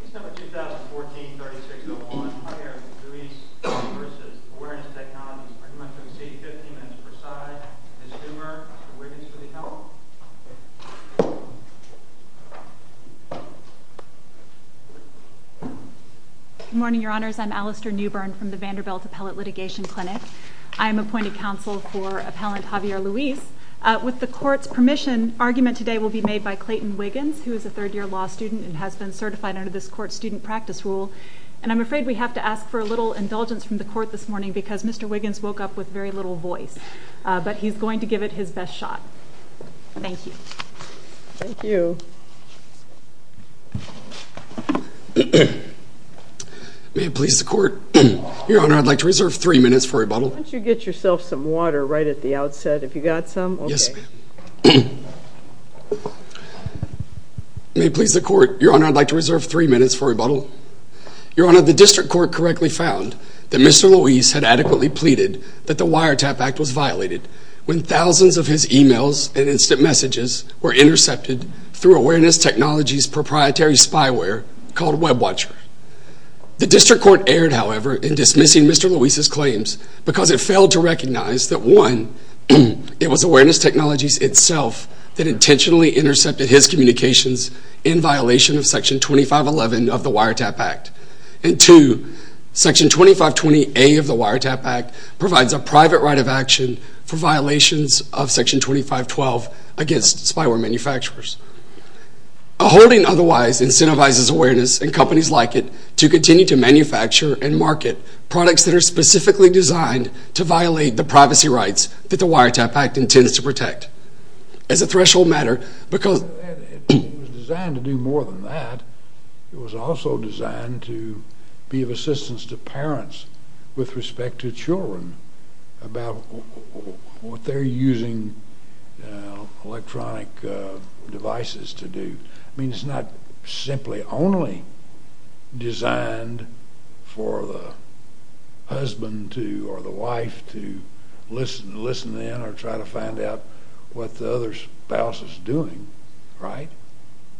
Case number 2014-3601, Javier Luis v. Awareness Technologies. I'd like to invite you to the stage, 15 minutes per side. Ms. Newbern, Mr. Wiggins, will you help? Good morning, Your Honors. I'm Alastair Newbern from the Vanderbilt Appellate Litigation Clinic. I'm appointed counsel for appellant Javier Luis. With the court's permission, argument today will be made by Clayton Wiggins, who is a third-year law student and has been certified under this court's student practice rule. And I'm afraid we have to ask for a little indulgence from the court this morning because Mr. Wiggins woke up with very little voice. But he's going to give it his best shot. Thank you. Thank you. May it please the court? Your Honor, I'd like to reserve three minutes for rebuttal. Why don't you get yourself some water right at the outset, if you've got some? Yes, ma'am. May it please the court? Your Honor, I'd like to reserve three minutes for rebuttal. Your Honor, the district court correctly found that Mr. Luis had adequately pleaded that the Wiretap Act was violated when thousands of his emails and instant messages were intercepted through Awareness Technologies' proprietary spyware called WebWatcher. The district court erred, however, in dismissing Mr. Luis's claims because it failed to recognize that, one, it was Awareness Technologies itself that intentionally intercepted his communications in violation of Section 2511 of the Wiretap Act. And, two, Section 2520A of the Wiretap Act provides a private right of action for violations of Section 2512 against spyware manufacturers. A holding otherwise incentivizes Awareness and companies like it to continue to manufacture and market products that are specifically designed to violate the privacy rights that the Wiretap Act intends to protect. As a threshold matter, because... It was designed to do more than that. It was also designed to be of assistance to parents with respect to children about what they're using electronic devices to do. I mean, it's not simply only designed for the husband or the wife to listen in or try to find out what the other spouse is doing, right?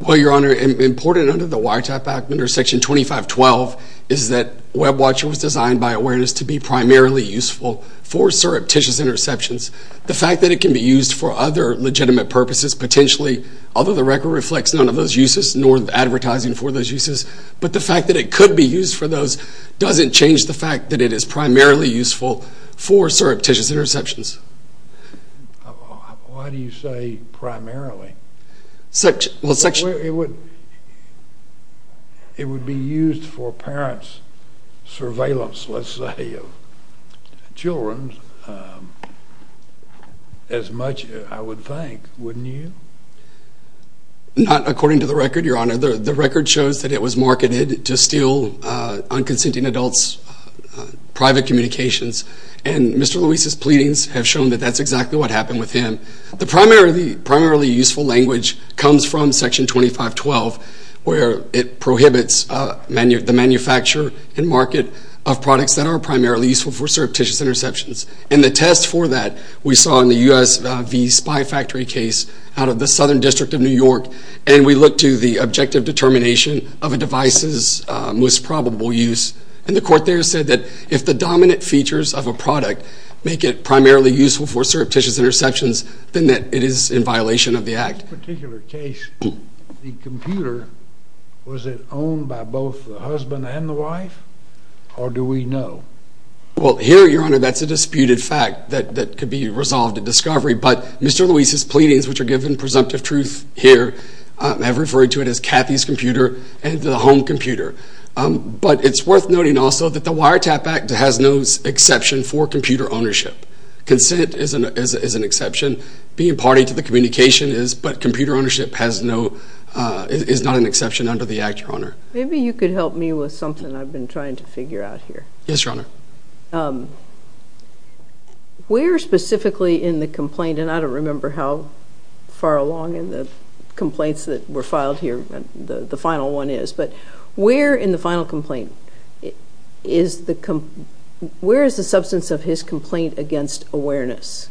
Well, Your Honor, important under the Wiretap Act, under Section 2512, is that WebWatch was designed by Awareness to be primarily useful for surreptitious interceptions. The fact that it can be used for other legitimate purposes, potentially, although the record reflects none of those uses, nor advertising for those uses, but the fact that it could be used for those doesn't change the fact that it is primarily useful for surreptitious interceptions. Why do you say primarily? It would be used for parents' surveillance, let's say, of children as much, I would think. Wouldn't you? Not according to the record, Your Honor. The record shows that it was marketed to steal unconsenting adults' private communications, and Mr. Luis's pleadings have shown that that's exactly what happened with him. The primarily useful language comes from Section 2512, where it prohibits the manufacture and market of products that are primarily useful for surreptitious interceptions. And the test for that we saw in the US v. Spy Factory case out of the Southern District of New York, and we looked to the objective determination of a device's most probable use, and the court there said that if the dominant features of a product make it primarily useful for surreptitious interceptions, then that it is in violation of the act. In this particular case, the computer, was it owned by both the husband and the wife, or do we know? Well, here, Your Honor, that's a disputed fact that could be resolved at discovery, but Mr. Luis's pleadings, which are given presumptive truth here, have referred to it as Kathy's computer and the home computer. But it's worth noting also that the Wiretap Act has no exception for computer ownership. Consent is an exception. Being party to the communication is, but computer ownership is not an exception under the act, Your Honor. Maybe you could help me with something I've been trying to figure out here. Yes, Your Honor. Where specifically in the complaint, and I don't remember how far along in the complaints that were filed here, the final one is, but where in the final complaint is the substance of his complaint against awareness?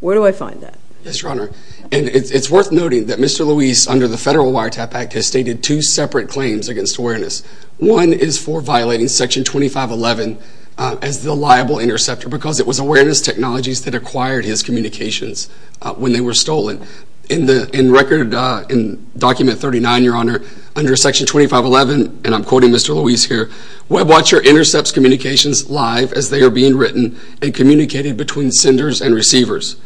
Where do I find that? Yes, Your Honor, and it's worth noting that Mr. Luis, under the Federal Wiretap Act, has stated two separate claims against awareness. One is for violating Section 2511 as the liable interceptor because it was awareness technologies that acquired his communications when they were stolen. In Document 39, Your Honor, under Section 2511, and I'm quoting Mr. Luis here, WebWatcher intercepts communications live as they are being written and communicated between senders and receivers.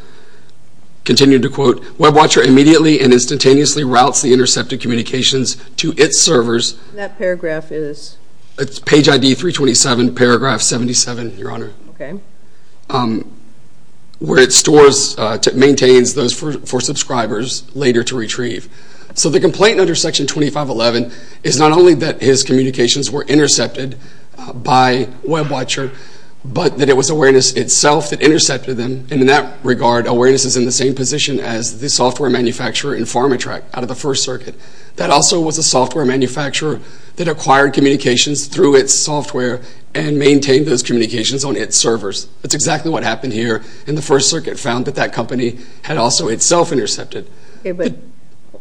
Continue to quote, WebWatcher immediately and instantaneously routes the intercepted communications to its servers. That paragraph is? It's page ID 327, paragraph 77, Your Honor. Okay. Where it stores, maintains those for subscribers later to retrieve. So the complaint under Section 2511 is not only that his communications were intercepted by WebWatcher, but that it was awareness itself that intercepted them, and in that regard, awareness is in the same position as the software manufacturer in PharmaTrac out of the First Circuit. That also was a software manufacturer that acquired communications through its software and maintained those communications on its servers. That's exactly what happened here, and the First Circuit found that that company had also itself intercepted. Okay, but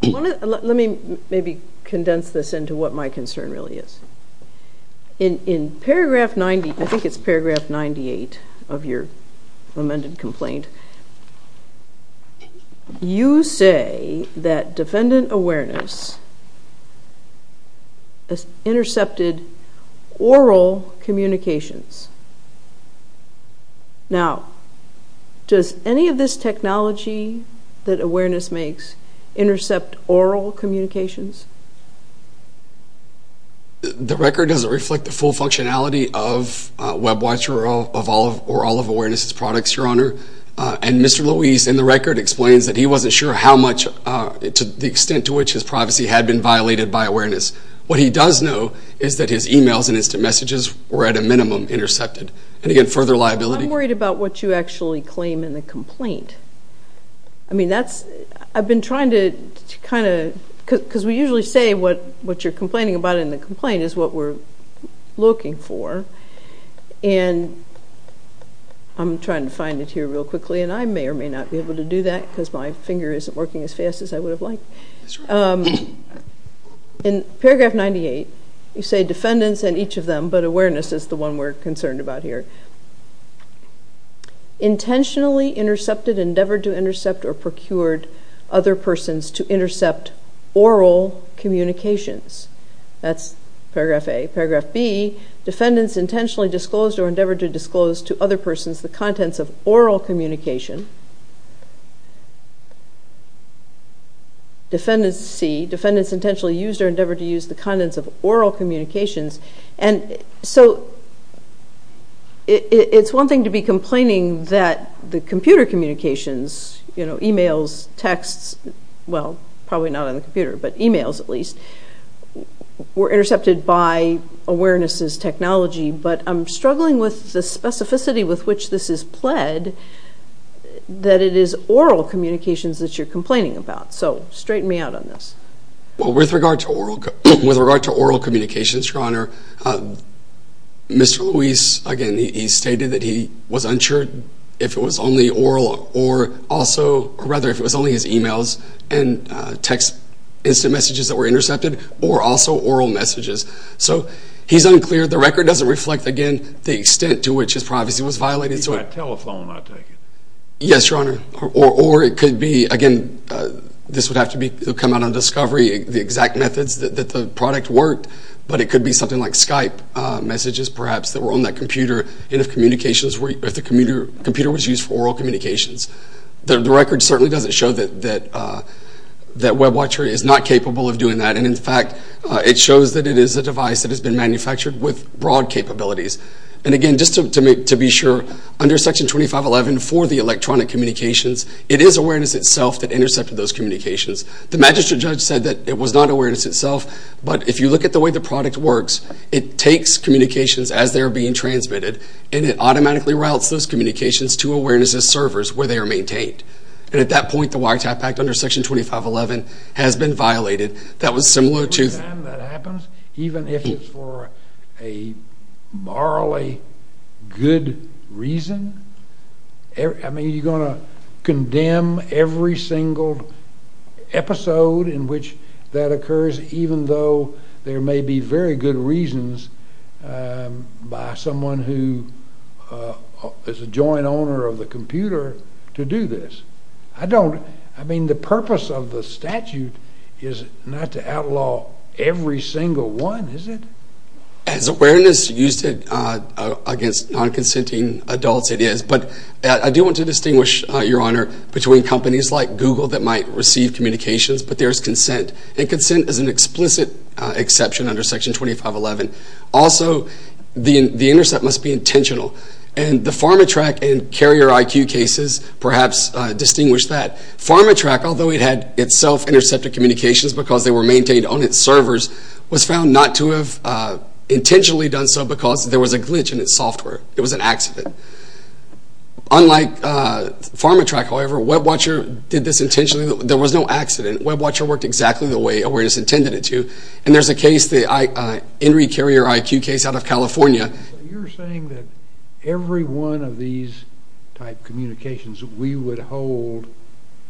let me maybe condense this into what my concern really is. In paragraph 90, I think it's paragraph 98 of your amended complaint, you say that defendant awareness intercepted oral communications. Now, does any of this technology that awareness makes intercept oral communications? The record doesn't reflect the full functionality of WebWatcher or all of awareness' products, Your Honor. And Mr. Louise in the record explains that he wasn't sure how much, the extent to which his privacy had been violated by awareness. What he does know is that his e-mails and instant messages were at a minimum intercepted. And again, further liability. I'm worried about what you actually claim in the complaint. I mean, that's, I've been trying to kind of, because we usually say what you're complaining about in the complaint is what we're looking for, and I'm trying to find it here real quickly, and I may or may not be able to do that because my finger isn't working as fast as I would have liked. In paragraph 98, you say defendants and each of them, but awareness is the one we're concerned about here, intentionally intercepted, endeavored to intercept, or procured other persons to intercept oral communications. That's paragraph A. Paragraph B, defendants intentionally disclosed or endeavored to disclose to other persons the contents of oral communication. Defendants, C, defendants intentionally used or endeavored to use the contents of oral communications. And so it's one thing to be complaining that the computer communications, you know, e-mails, texts, well, probably not on the computer, but e-mails at least, were intercepted by awareness's technology, but I'm struggling with the specificity with which this is pled, that it is oral communications that you're complaining about. So straighten me out on this. Well, with regard to oral communications, Your Honor, Mr. Luis, again, he stated that he was unsure if it was only oral or also, or rather if it was only his e-mails and text instant messages that were intercepted or also oral messages. So he's unclear. The record doesn't reflect, again, the extent to which his privacy was violated. He's got a telephone, I take it. Yes, Your Honor. Or it could be, again, this would have to come out on discovery, the exact methods that the product worked, but it could be something like Skype messages perhaps that were on that computer and if the computer was used for oral communications. The record certainly doesn't show that WebWatcher is not capable of doing that, and, in fact, it shows that it is a device that has been manufactured with broad capabilities. And, again, just to be sure, under Section 2511 for the electronic communications, it is awareness itself that intercepted those communications. The magistrate judge said that it was not awareness itself, but if you look at the way the product works, it takes communications as they're being transmitted and it automatically routes those communications to awareness as servers where they are maintained. And at that point, the WireTap Act under Section 2511 has been violated. That was similar to... That happens even if it's for a morally good reason. I mean, you're going to condemn every single episode in which that occurs, even though there may be very good reasons by someone who is a joint owner of the computer to do this. I don't... I mean, the purpose of the statute is not to outlaw every single one, is it? As awareness used against non-consenting adults, it is. But I do want to distinguish, Your Honor, between companies like Google that might receive communications, but there is consent. And consent is an explicit exception under Section 2511. Also, the intercept must be intentional. And the PharmaTrack and CarrierIQ cases perhaps distinguish that. PharmaTrack, although it had itself intercepted communications because they were maintained on its servers, was found not to have intentionally done so because there was a glitch in its software. It was an accident. Unlike PharmaTrack, however, WebWatcher did this intentionally. There was no accident. WebWatcher worked exactly the way awareness intended it to. And there's a case, the Henry CarrierIQ case out of California. You're saying that every one of these type communications we would hold,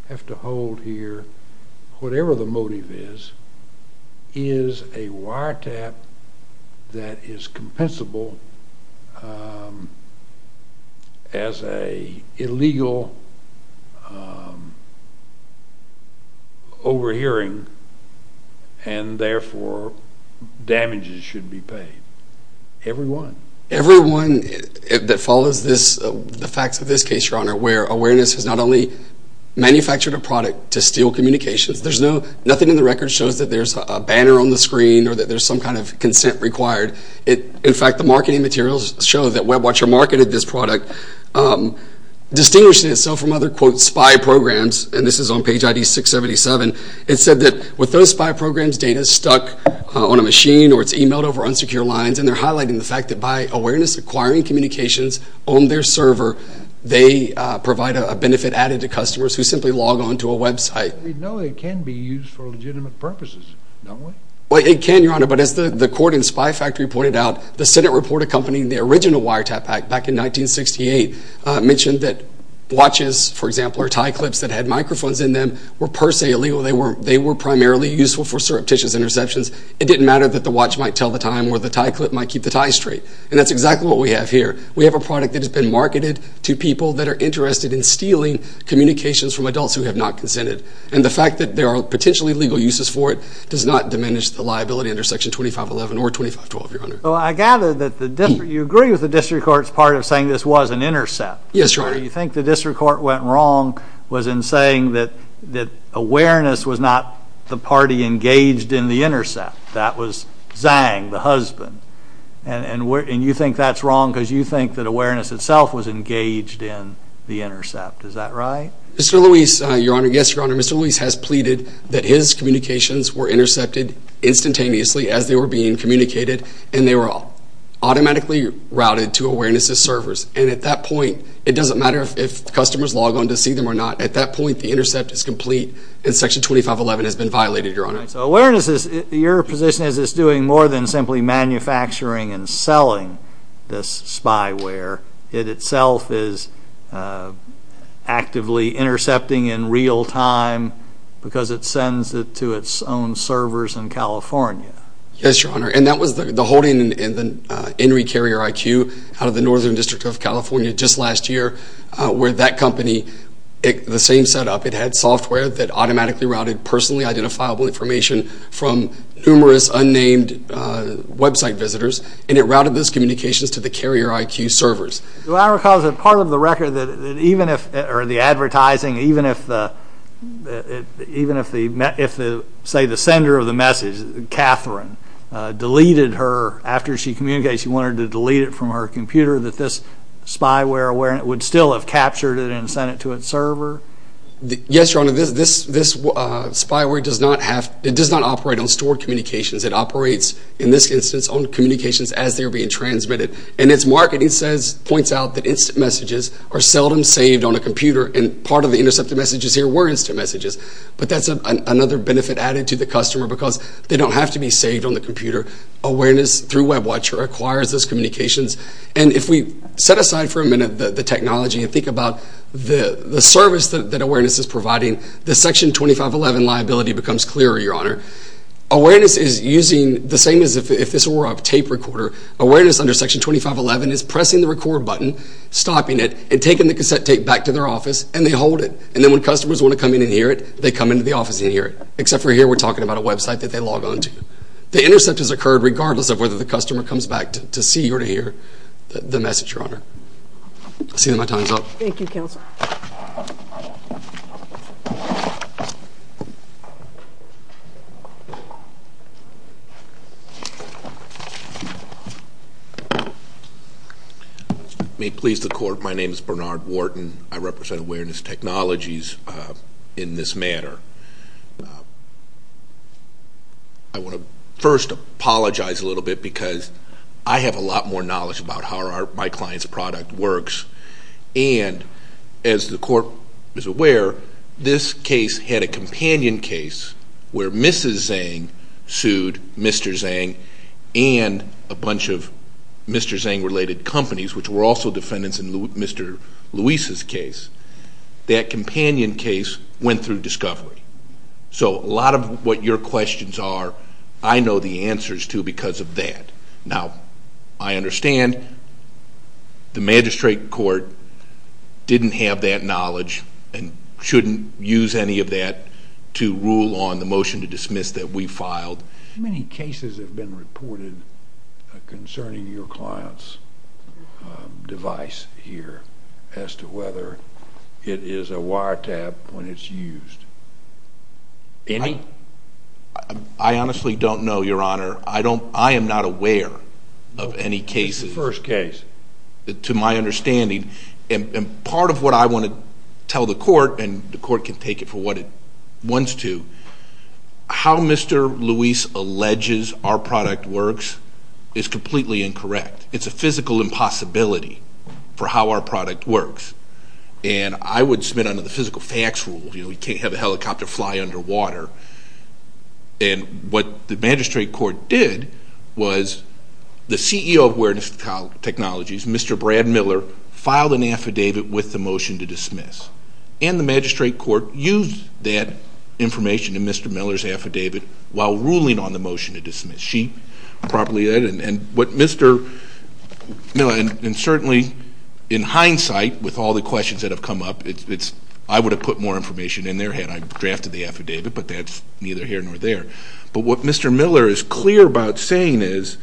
have to hold here, whatever the motive is, is a wiretap that is compensable as an illegal overhearing, and therefore damages should be paid. Every one. Every one that follows the facts of this case, Your Honor, where awareness has not only manufactured a product to steal communications. Nothing in the record shows that there's a banner on the screen or that there's some kind of consent required. In fact, the marketing materials show that WebWatcher marketed this product, distinguishing itself from other, quote, spy programs. And this is on page ID 677. It said that with those spy programs, data is stuck on a machine or it's emailed over unsecure lines. And they're highlighting the fact that by awareness acquiring communications on their server, they provide a benefit added to customers who simply log on to a website. We know it can be used for legitimate purposes, don't we? Well, it can, Your Honor. But as the court in Spy Factory pointed out, the Senate report accompanying the original Wiretap Act back in 1968 mentioned that watches, for example, or tie clips that had microphones in them were per se illegal. They were primarily useful for surreptitious interceptions. It didn't matter that the watch might tell the time or the tie clip might keep the tie straight. And that's exactly what we have here. We have a product that has been marketed to people that are interested in stealing communications from adults who have not consented. And the fact that there are potentially legal uses for it does not diminish the liability under Section 2511 or 2512, Your Honor. Well, I gather that you agree with the district court's part of saying this was an intercept. Yes, Your Honor. Where you think the district court went wrong was in saying that awareness was not the party engaged in the intercept. That was Zhang, the husband. And you think that's wrong because you think that awareness itself was engaged in the intercept. Is that right? Mr. Lewis, Your Honor, yes, Your Honor, Mr. Lewis has pleaded that his communications were intercepted instantaneously as they were being communicated and they were automatically routed to awareness's servers. And at that point, it doesn't matter if customers log on to see them or not. At that point, the intercept is complete and Section 2511 has been violated, Your Honor. So awareness, your position is it's doing more than simply manufacturing and selling this spyware. It itself is actively intercepting in real time because it sends it to its own servers in California. Yes, Your Honor, and that was the holding in the Henry Carrier IQ out of the Northern District of California just last year where that company, the same setup, it had software that automatically routed personally identifiable information from numerous unnamed website visitors, and it routed those communications to the Carrier IQ servers. Do I recall that part of the record that even if, or the advertising, even if say the sender of the message, Catherine, deleted her, after she communicated she wanted to delete it from her computer, that this spyware would still have captured it and sent it to its server? Yes, Your Honor, this spyware does not operate on stored communications. It operates, in this instance, on communications as they're being transmitted. And its marketing points out that instant messages are seldom saved on a computer, and part of the intercepted messages here were instant messages. But that's another benefit added to the customer because they don't have to be saved on the computer. Awareness through WebWatcher acquires those communications. And if we set aside for a minute the technology and think about the service that awareness is providing, the Section 2511 liability becomes clearer, Your Honor. Awareness is using, the same as if this were a tape recorder, awareness under Section 2511 is pressing the record button, stopping it, and taking the cassette tape back to their office, and they hold it. And then when customers want to come in and hear it, they come into the office and hear it, except for here we're talking about a website that they log on to. The intercept has occurred regardless of whether the customer comes back to see or to hear the message, Your Honor. I'll see you when my time's up. Thank you, Counselor. May it please the Court, my name is Bernard Wharton. I represent Awareness Technologies in this manner. I want to first apologize a little bit because I have a lot more knowledge about how my client's product works. And as the Court is aware, this case had a companion case where Mrs. Zhang sued Mr. Zhang and a bunch of Mr. Zhang-related companies, which were also defendants in Mr. Luis's case. That companion case went through discovery. So a lot of what your questions are, I know the answers to because of that. Now, I understand the magistrate court didn't have that knowledge and shouldn't use any of that to rule on the motion to dismiss that we filed. How many cases have been reported concerning your client's device here as to whether it is a wiretap when it's used? Any? I honestly don't know, Your Honor. I am not aware of any cases. This is the first case. To my understanding. And part of what I want to tell the Court, and the Court can take it for what it wants to, how Mr. Luis alleges our product works is completely incorrect. It's a physical impossibility for how our product works. And I would submit under the physical facts rule, you know, you can't have a helicopter fly underwater. And what the magistrate court did was the CEO of Awareness Technologies, Mr. Brad Miller, filed an affidavit with the motion to dismiss. And the magistrate court used that information in Mr. Miller's affidavit while ruling on the motion to dismiss. She properly did. And what Mr. Miller, and certainly in hindsight, with all the questions that have come up, I would have put more information in their head. I drafted the affidavit, but that's neither here nor there. But what Mr. Miller is clear about saying is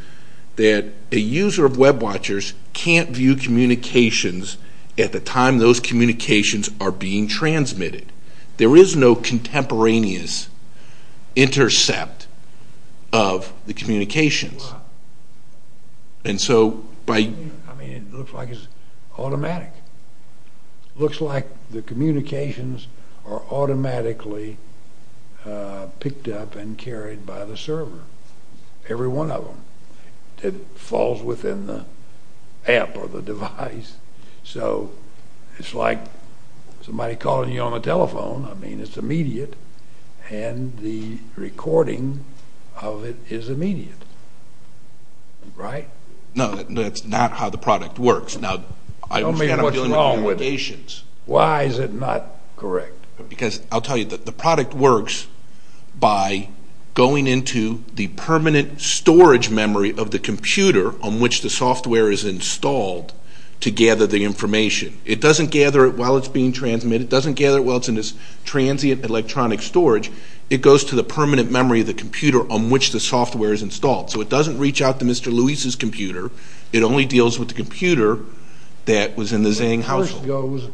that a user of WebWatchers can't view communications at the time those communications are being transmitted. There is no contemporaneous intercept of the communications. Wow. And so by... I mean, it looks like it's automatic. It looks like the communications are automatically picked up and carried by the server, every one of them. It falls within the app or the device. So it's like somebody calling you on the telephone. I mean, it's immediate, and the recording of it is immediate. Right? No, that's not how the product works. Now, I understand I'm dealing with communications. Why is it not correct? Because I'll tell you, the product works by going into the permanent storage memory of the computer on which the software is installed to gather the information. It doesn't gather it while it's being transmitted. It doesn't gather it while it's in this transient electronic storage. It goes to the permanent memory of the computer on which the software is installed. So it doesn't reach out to Mr. Lewis's computer. It only deals with the computer that was in the Zhang household.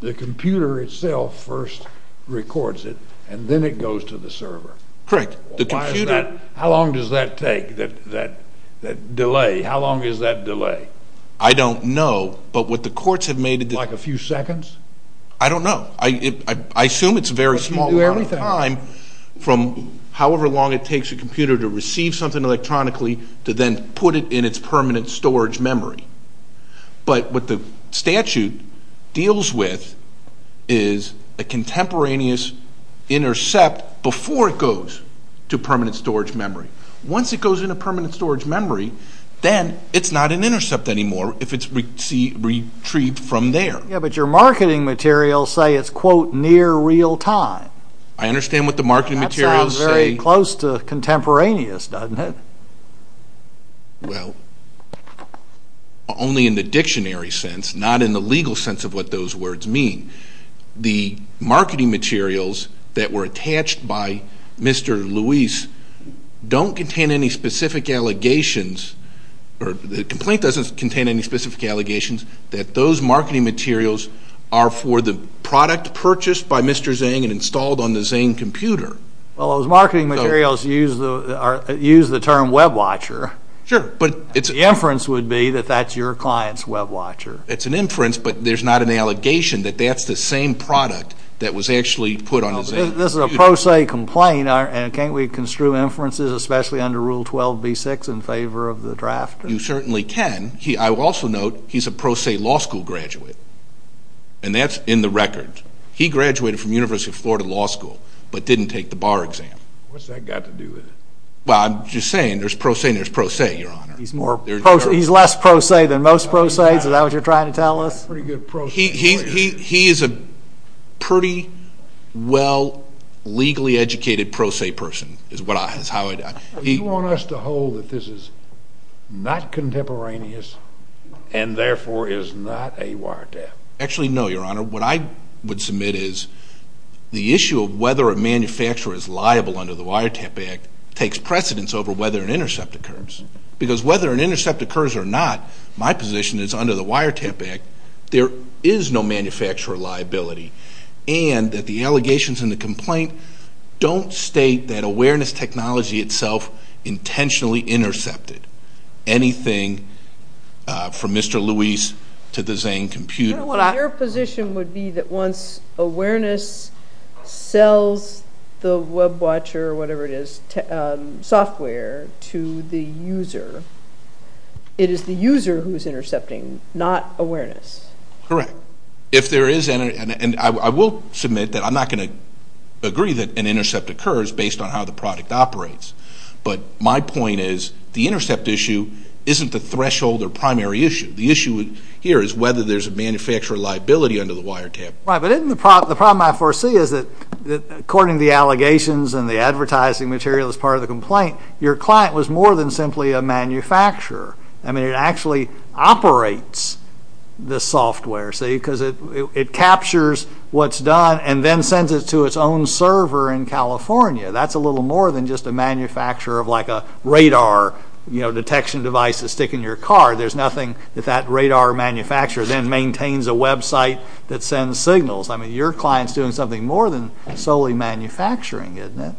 The computer itself first records it, and then it goes to the server. Correct. How long does that take, that delay? How long is that delay? I don't know. Like a few seconds? I don't know. I assume it's a very small amount of time from however long it takes a computer to receive something electronically to then put it in its permanent storage memory. But what the statute deals with is a contemporaneous intercept before it goes to permanent storage memory. Once it goes into permanent storage memory, then it's not an intercept anymore if it's retrieved from there. Yeah, but your marketing materials say it's, quote, near real time. I understand what the marketing materials say. That sounds very close to contemporaneous, doesn't it? Well, only in the dictionary sense, not in the legal sense of what those words mean. The marketing materials that were attached by Mr. Lewis don't contain any specific allegations, or the complaint doesn't contain any specific allegations, that those marketing materials are for the product purchased by Mr. Zhang and installed on the Zhang computer. Well, those marketing materials use the term WebWatcher. Sure. The inference would be that that's your client's WebWatcher. It's an inference, but there's not an allegation that that's the same product that was actually put on the Zhang. This is a pro se complaint, and can't we construe inferences, especially under Rule 12b-6, in favor of the draft? You certainly can. I will also note he's a pro se law school graduate, and that's in the record. He graduated from University of Florida Law School, but didn't take the bar exam. What's that got to do with it? Well, I'm just saying there's pro se and there's pro se, Your Honor. He's less pro se than most pro se, is that what you're trying to tell us? He is a pretty well legally educated pro se person. Do you want us to hold that this is not contemporaneous and therefore is not a wiretap? Actually, no, Your Honor. What I would submit is the issue of whether a manufacturer is liable under the Wiretap Act takes precedence over whether an intercept occurs, because whether an intercept occurs or not, my position is under the Wiretap Act there is no manufacturer liability, and that the allegations in the complaint don't state that awareness technology itself intentionally intercepted anything from Mr. Lewis to the Zane computer. Your position would be that once awareness sells the WebWatch or whatever it is, software, to the user, it is the user who is intercepting, not awareness. Correct. If there is, and I will submit that I'm not going to agree that an intercept occurs based on how the product operates, but my point is the intercept issue isn't the threshold or primary issue. The issue here is whether there is a manufacturer liability under the wiretap. Right, but isn't the problem I foresee is that according to the allegations and the advertising material as part of the complaint, your client was more than simply a manufacturer. I mean, it actually operates the software, see, because it captures what's done and then sends it to its own server in California. That's a little more than just a manufacturer of like a radar detection device to stick in your car. There's nothing that that radar manufacturer then maintains a website that sends signals. I mean, your client is doing something more than solely manufacturing, isn't it?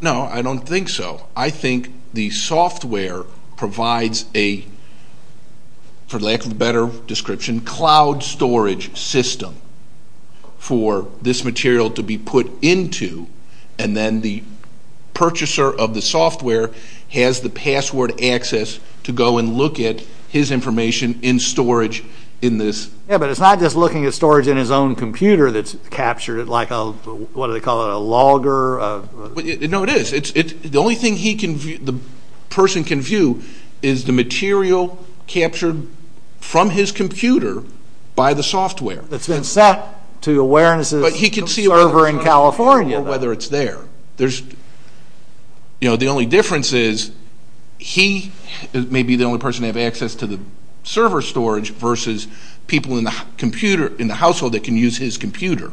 No, I don't think so. I think the software provides a, for lack of a better description, cloud storage system for this material to be put into, and then the purchaser of the software has the password access to go and look at his information in storage in this. Yeah, but it's not just looking at storage in his own computer that's captured it like a, what do they call it, a logger. No, it is. The only thing the person can view is the material captured from his computer by the software. It's been sent to Awareness's server in California. But he can see whether it's there. The only difference is he may be the only person to have access to the server storage versus people in the household that can use his computer.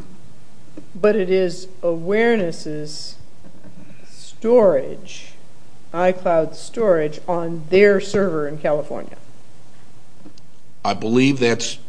But it is Awareness's storage, iCloud storage, on their server in California. I believe that's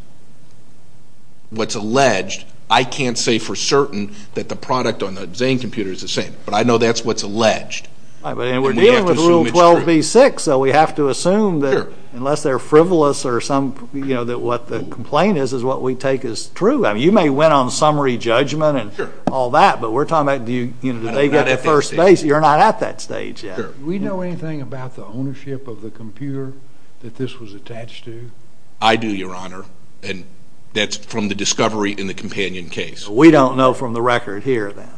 what's alleged. I can't say for certain that the product on the Zane computer is the same. But I know that's what's alleged. And we're dealing with Rule 12b-6, so we have to assume that unless they're frivolous or some, you know, that what the complaint is is what we take as true. I mean, you may win on summary judgment and all that, but we're talking about, you know, did they get the first base? You're not at that stage yet. Do we know anything about the ownership of the computer that this was attached to? I do, Your Honor, and that's from the discovery in the companion case. We don't know from the record here, then.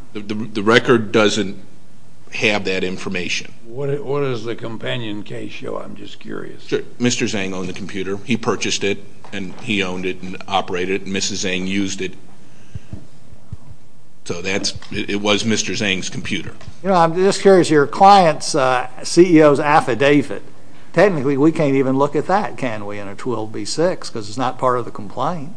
The record doesn't have that information. What does the companion case show? I'm just curious. Mr. Zane owned the computer. He purchased it, and he owned it and operated it. Mrs. Zane used it. So it was Mr. Zane's computer. You know, I'm just curious, your client's CEO's affidavit, technically we can't even look at that, can we, in a 12b-6 because it's not part of the complaint.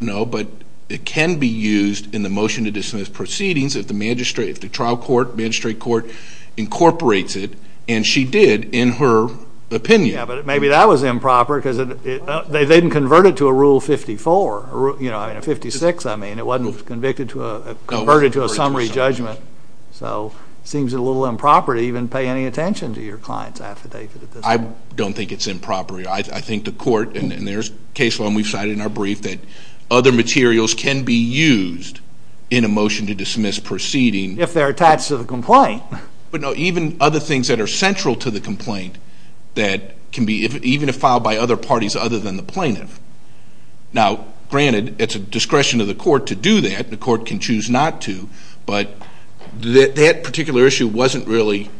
No, but it can be used in the motion to dismiss proceedings if the magistrate, if the trial court, magistrate court incorporates it, and she did in her opinion. Yeah, but maybe that was improper because they didn't convert it to a Rule 54. You know, a 56, I mean, it wasn't converted to a summary judgment. So it seems a little improper to even pay any attention to your client's affidavit. I don't think it's improper. I think the court, and there's a case law we've cited in our brief, that other materials can be used in a motion to dismiss proceeding. If they're attached to the complaint. But, no, even other things that are central to the complaint that can be, even if filed by other parties other than the plaintiff. Now, granted, it's a discretion of the court to do that. The court can choose not to. But that particular issue wasn't really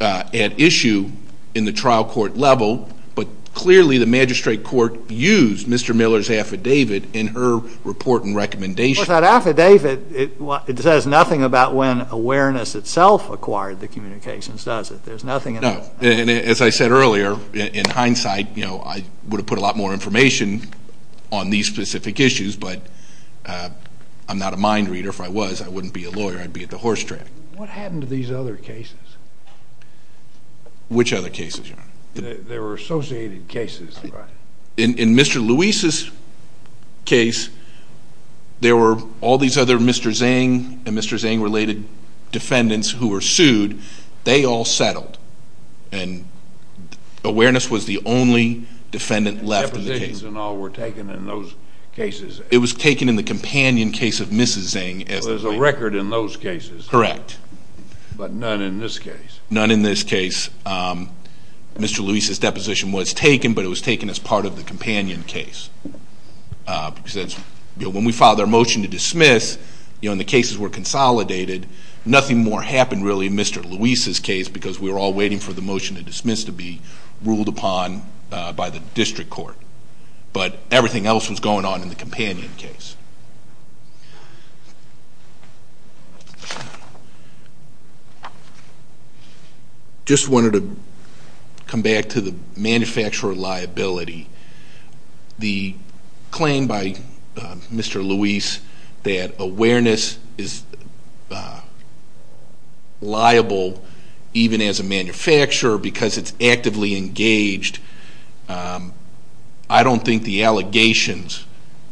at issue in the trial court level. But clearly the magistrate court used Mr. Miller's affidavit in her report and recommendation. Well, that affidavit, it says nothing about when awareness itself acquired the communications, does it? There's nothing in it. No. As I said earlier, in hindsight, I would have put a lot more information on these specific issues. But I'm not a mind reader. If I was, I wouldn't be a lawyer. I'd be at the horse track. What happened to these other cases? Which other cases, Your Honor? There were associated cases, right? In Mr. Luis's case, there were all these other Mr. Zhang and Mr. Zhang-related defendants who were sued. They all settled. And awareness was the only defendant left in the case. Depositions and all were taken in those cases. It was taken in the companion case of Mrs. Zhang. So there's a record in those cases. Correct. But none in this case. None in this case. Mr. Luis's deposition was taken, but it was taken as part of the companion case. Because when we filed our motion to dismiss, and the cases were consolidated, nothing more happened really in Mr. Luis's case because we were all waiting for the motion to dismiss to be ruled upon by the district court. But everything else was going on in the companion case. Just wanted to come back to the manufacturer liability. The claim by Mr. Luis that awareness is liable even as a manufacturer because it's actively engaged, I don't think the allegations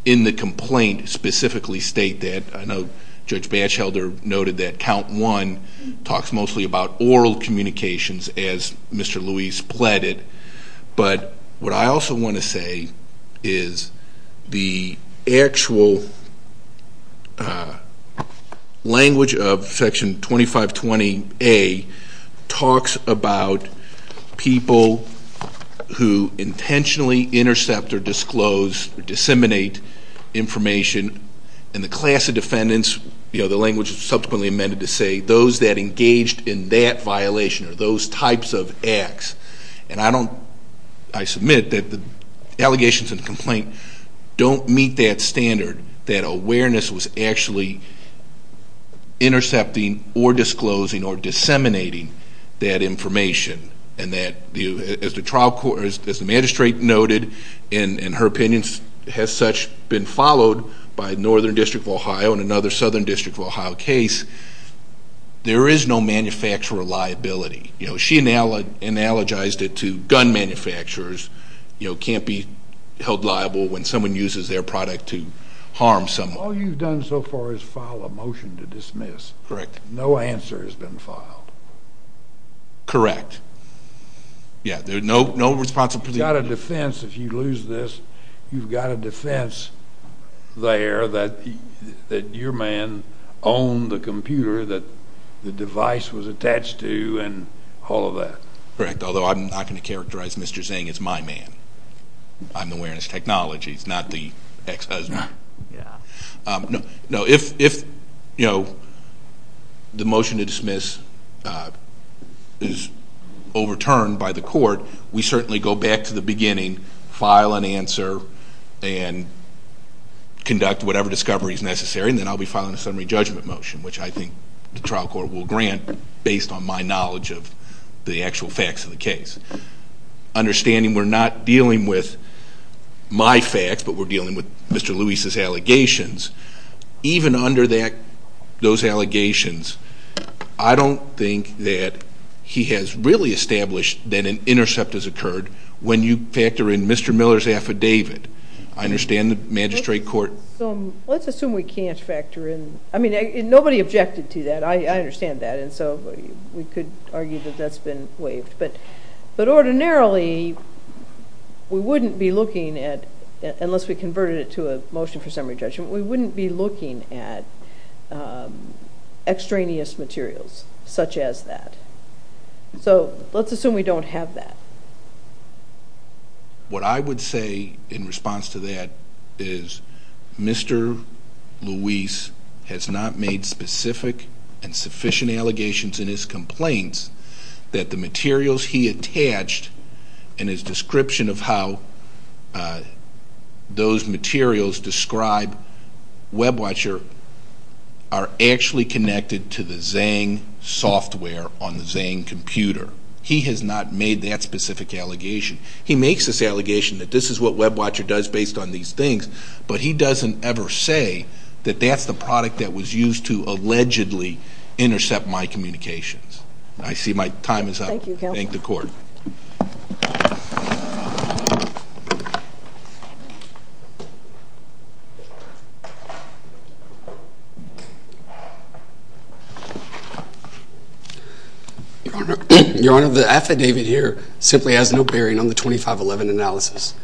in the complaint specifically state that. I know Judge Batchelder noted that count one talks mostly about oral communications as Mr. Luis pleaded. But what I also want to say is the actual language of Section 2520A talks about people who intentionally intercept or disclose or disseminate information, and the class of defendants, you know, the language subsequently amended to say those that engaged in that violation or those types of acts. And I submit that the allegations in the complaint don't meet that standard, that awareness was actually intercepting or disclosing or disseminating that information. And as the magistrate noted in her opinions, has such been followed by Northern District of Ohio and another Southern District of Ohio case, there is no manufacturer liability. You know, she analogized it to gun manufacturers, you know, can't be held liable when someone uses their product to harm someone. All you've done so far is file a motion to dismiss. Correct. No answer has been filed. Correct. Yeah, there's no responsibility. You've got a defense if you lose this. You've got a defense there that your man owned the computer that the device was attached to and all of that. Correct, although I'm not going to characterize Mr. Zang as my man. I'm the awareness technology, he's not the ex-husband. Yeah. No, if, you know, the motion to dismiss is overturned by the court, we certainly go back to the beginning, file an answer, and conduct whatever discovery is necessary, and then I'll be filing a summary judgment motion, which I think the trial court will grant based on my knowledge of the actual facts of the case. Understanding we're not dealing with my facts, but we're dealing with Mr. Lewis's allegations, even under those allegations, I don't think that he has really established that an intercept has occurred when you factor in Mr. Miller's affidavit. I understand the magistrate court. Let's assume we can't factor in. I mean, nobody objected to that. I understand that, and so we could argue that that's been waived. But ordinarily, we wouldn't be looking at, unless we converted it to a motion for summary judgment, we wouldn't be looking at extraneous materials such as that. So let's assume we don't have that. What I would say in response to that is Mr. Lewis has not made specific and sufficient allegations in his complaints that the materials he attached in his description of how those materials describe WebWatcher are actually connected to the Xang software on the Xang computer. He has not made that specific allegation. He makes this allegation that this is what WebWatcher does based on these things, but he doesn't ever say that that's the product that was used to allegedly intercept my communications. I see my time is up. Thank you, Your Honor. Thank the court. Your Honor, the affidavit here simply has no bearing on the 2511 analysis.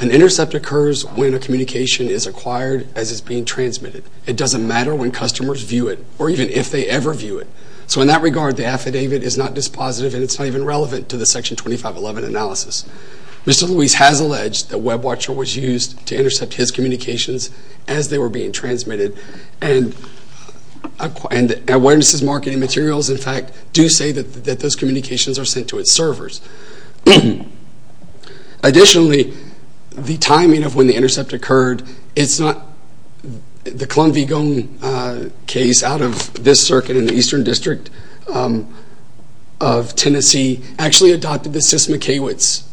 An intercept occurs when a communication is acquired as it's being transmitted. It doesn't matter when customers view it or even if they ever view it. So in that regard, the affidavit is not dispositive, and it's not even relevant to the Section 2511 analysis. Mr. Lewis has alleged that WebWatcher was used to intercept his communications as they were being transmitted, and Awareness's marketing materials, in fact, do say that those communications are sent to its servers. Additionally, the timing of when the intercept occurred, it's not the Columb Vigon case out of this circuit in the Eastern District of Tennessee actually adopted the Sys McKewitt's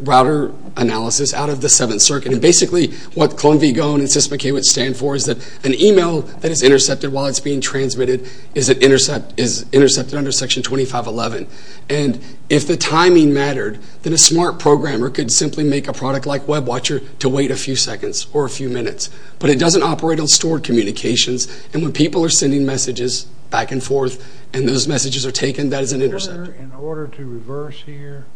router analysis out of the Seventh Circuit. And basically, what Columb Vigon and Sys McKewitt stand for is that an email that is intercepted while it's being transmitted is intercepted under Section 2511. And if the timing mattered, then a smart programmer could simply make a product like WebWatcher to wait a few seconds or a few minutes. But it doesn't operate on stored communications, and when people are sending messages back and forth and those messages are taken, that is an interceptor. In order to reverse here,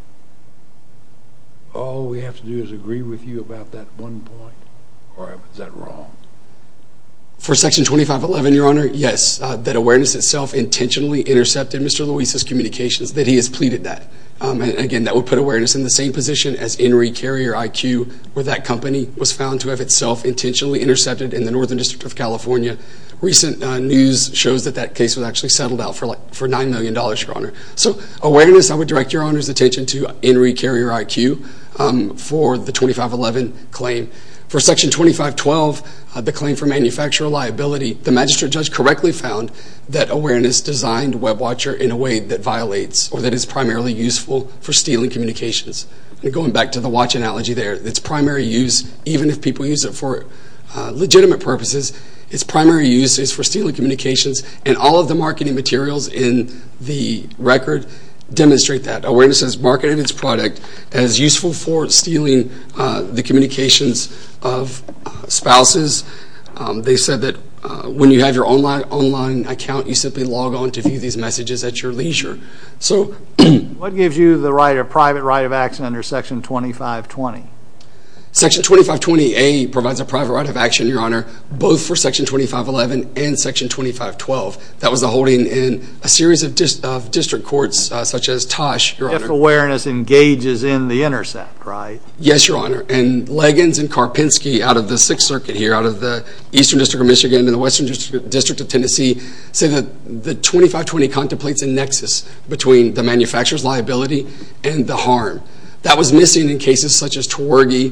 all we have to do is agree with you about that one point, or is that wrong? For Section 2511, Your Honor, yes. that Awareness itself intentionally intercepted Mr. Luis's communications, that he has pleaded that. Again, that would put Awareness in the same position as Henry Carrier IQ, where that company was found to have itself intentionally intercepted in the Northern District of California. Recent news shows that that case was actually settled out for $9 million, Your Honor. So Awareness, I would direct Your Honor's attention to Henry Carrier IQ for the 2511 claim. For Section 2512, the claim for manufacturer liability, the magistrate judge correctly found that Awareness designed WebWatcher in a way that violates or that is primarily useful for stealing communications. Going back to the watch analogy there, its primary use, even if people use it for legitimate purposes, its primary use is for stealing communications, and all of the marketing materials in the record demonstrate that. It is useful for stealing the communications of spouses. They said that when you have your online account, you simply log on to view these messages at your leisure. What gives you the right, a private right of action under Section 2520? Section 2520A provides a private right of action, Your Honor, both for Section 2511 and Section 2512. That was the holding in a series of district courts, such as Tosh, Your Honor. So Public Awareness engages in the intercept, right? Yes, Your Honor, and Leggins and Karpinski out of the Sixth Circuit here, out of the Eastern District of Michigan and the Western District of Tennessee, say that the 2520 contemplates a nexus between the manufacturer's liability and the harm. That was missing in cases such as Twergy,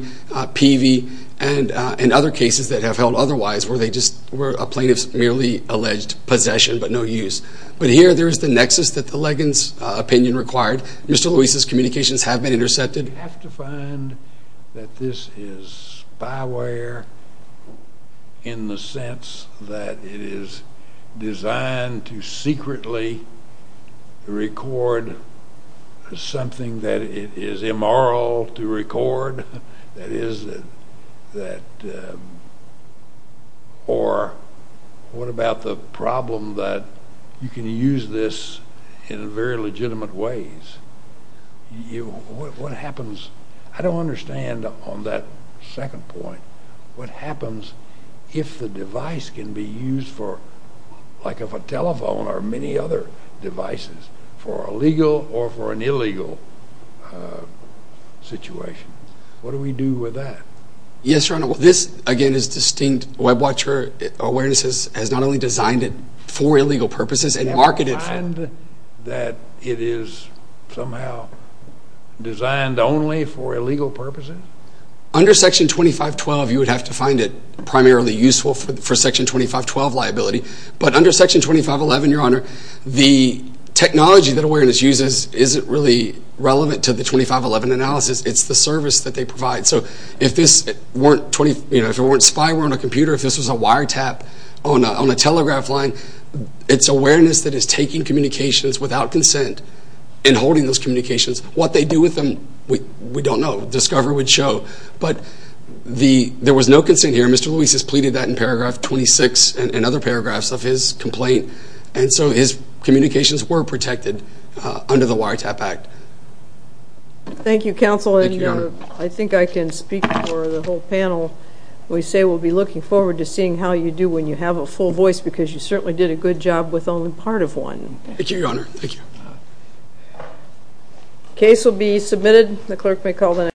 Peavey, and other cases that have held otherwise, where they just were a plaintiff's merely alleged possession, but no use. But here, there is the nexus that the Leggins opinion required. Mr. Lewis's communications have been intercepted. You have to find that this is spyware in the sense that it is designed to secretly record something that it is immoral to record. Or what about the problem that you can use this in very legitimate ways? What happens? I don't understand on that second point. What happens if the device can be used for, like if a telephone or many other devices, for a legal or for an illegal situation? What do we do with that? Yes, Your Honor, this, again, is distinct. WebWatch for Awareness has not only designed it for illegal purposes and marketed for it. Do you find that it is somehow designed only for illegal purposes? Under Section 2512, you would have to find it primarily useful for Section 2512 liability. But under Section 2511, Your Honor, the technology that Awareness uses isn't really relevant to the 2511 analysis. It's the service that they provide. So if this weren't spyware on a computer, if this was a wiretap on a telegraph line, it's Awareness that is taking communications without consent and holding those communications. What they do with them, we don't know. Discover would show. But there was no consent here. Mr. Luis has pleaded that in paragraph 26 and other paragraphs of his complaint. And so his communications were protected under the Wiretap Act. Thank you, Counsel. Thank you, Your Honor. I think I can speak for the whole panel. We say we'll be looking forward to seeing how you do when you have a full voice because you certainly did a good job with only part of one. Thank you, Your Honor. Thank you. The case will be submitted.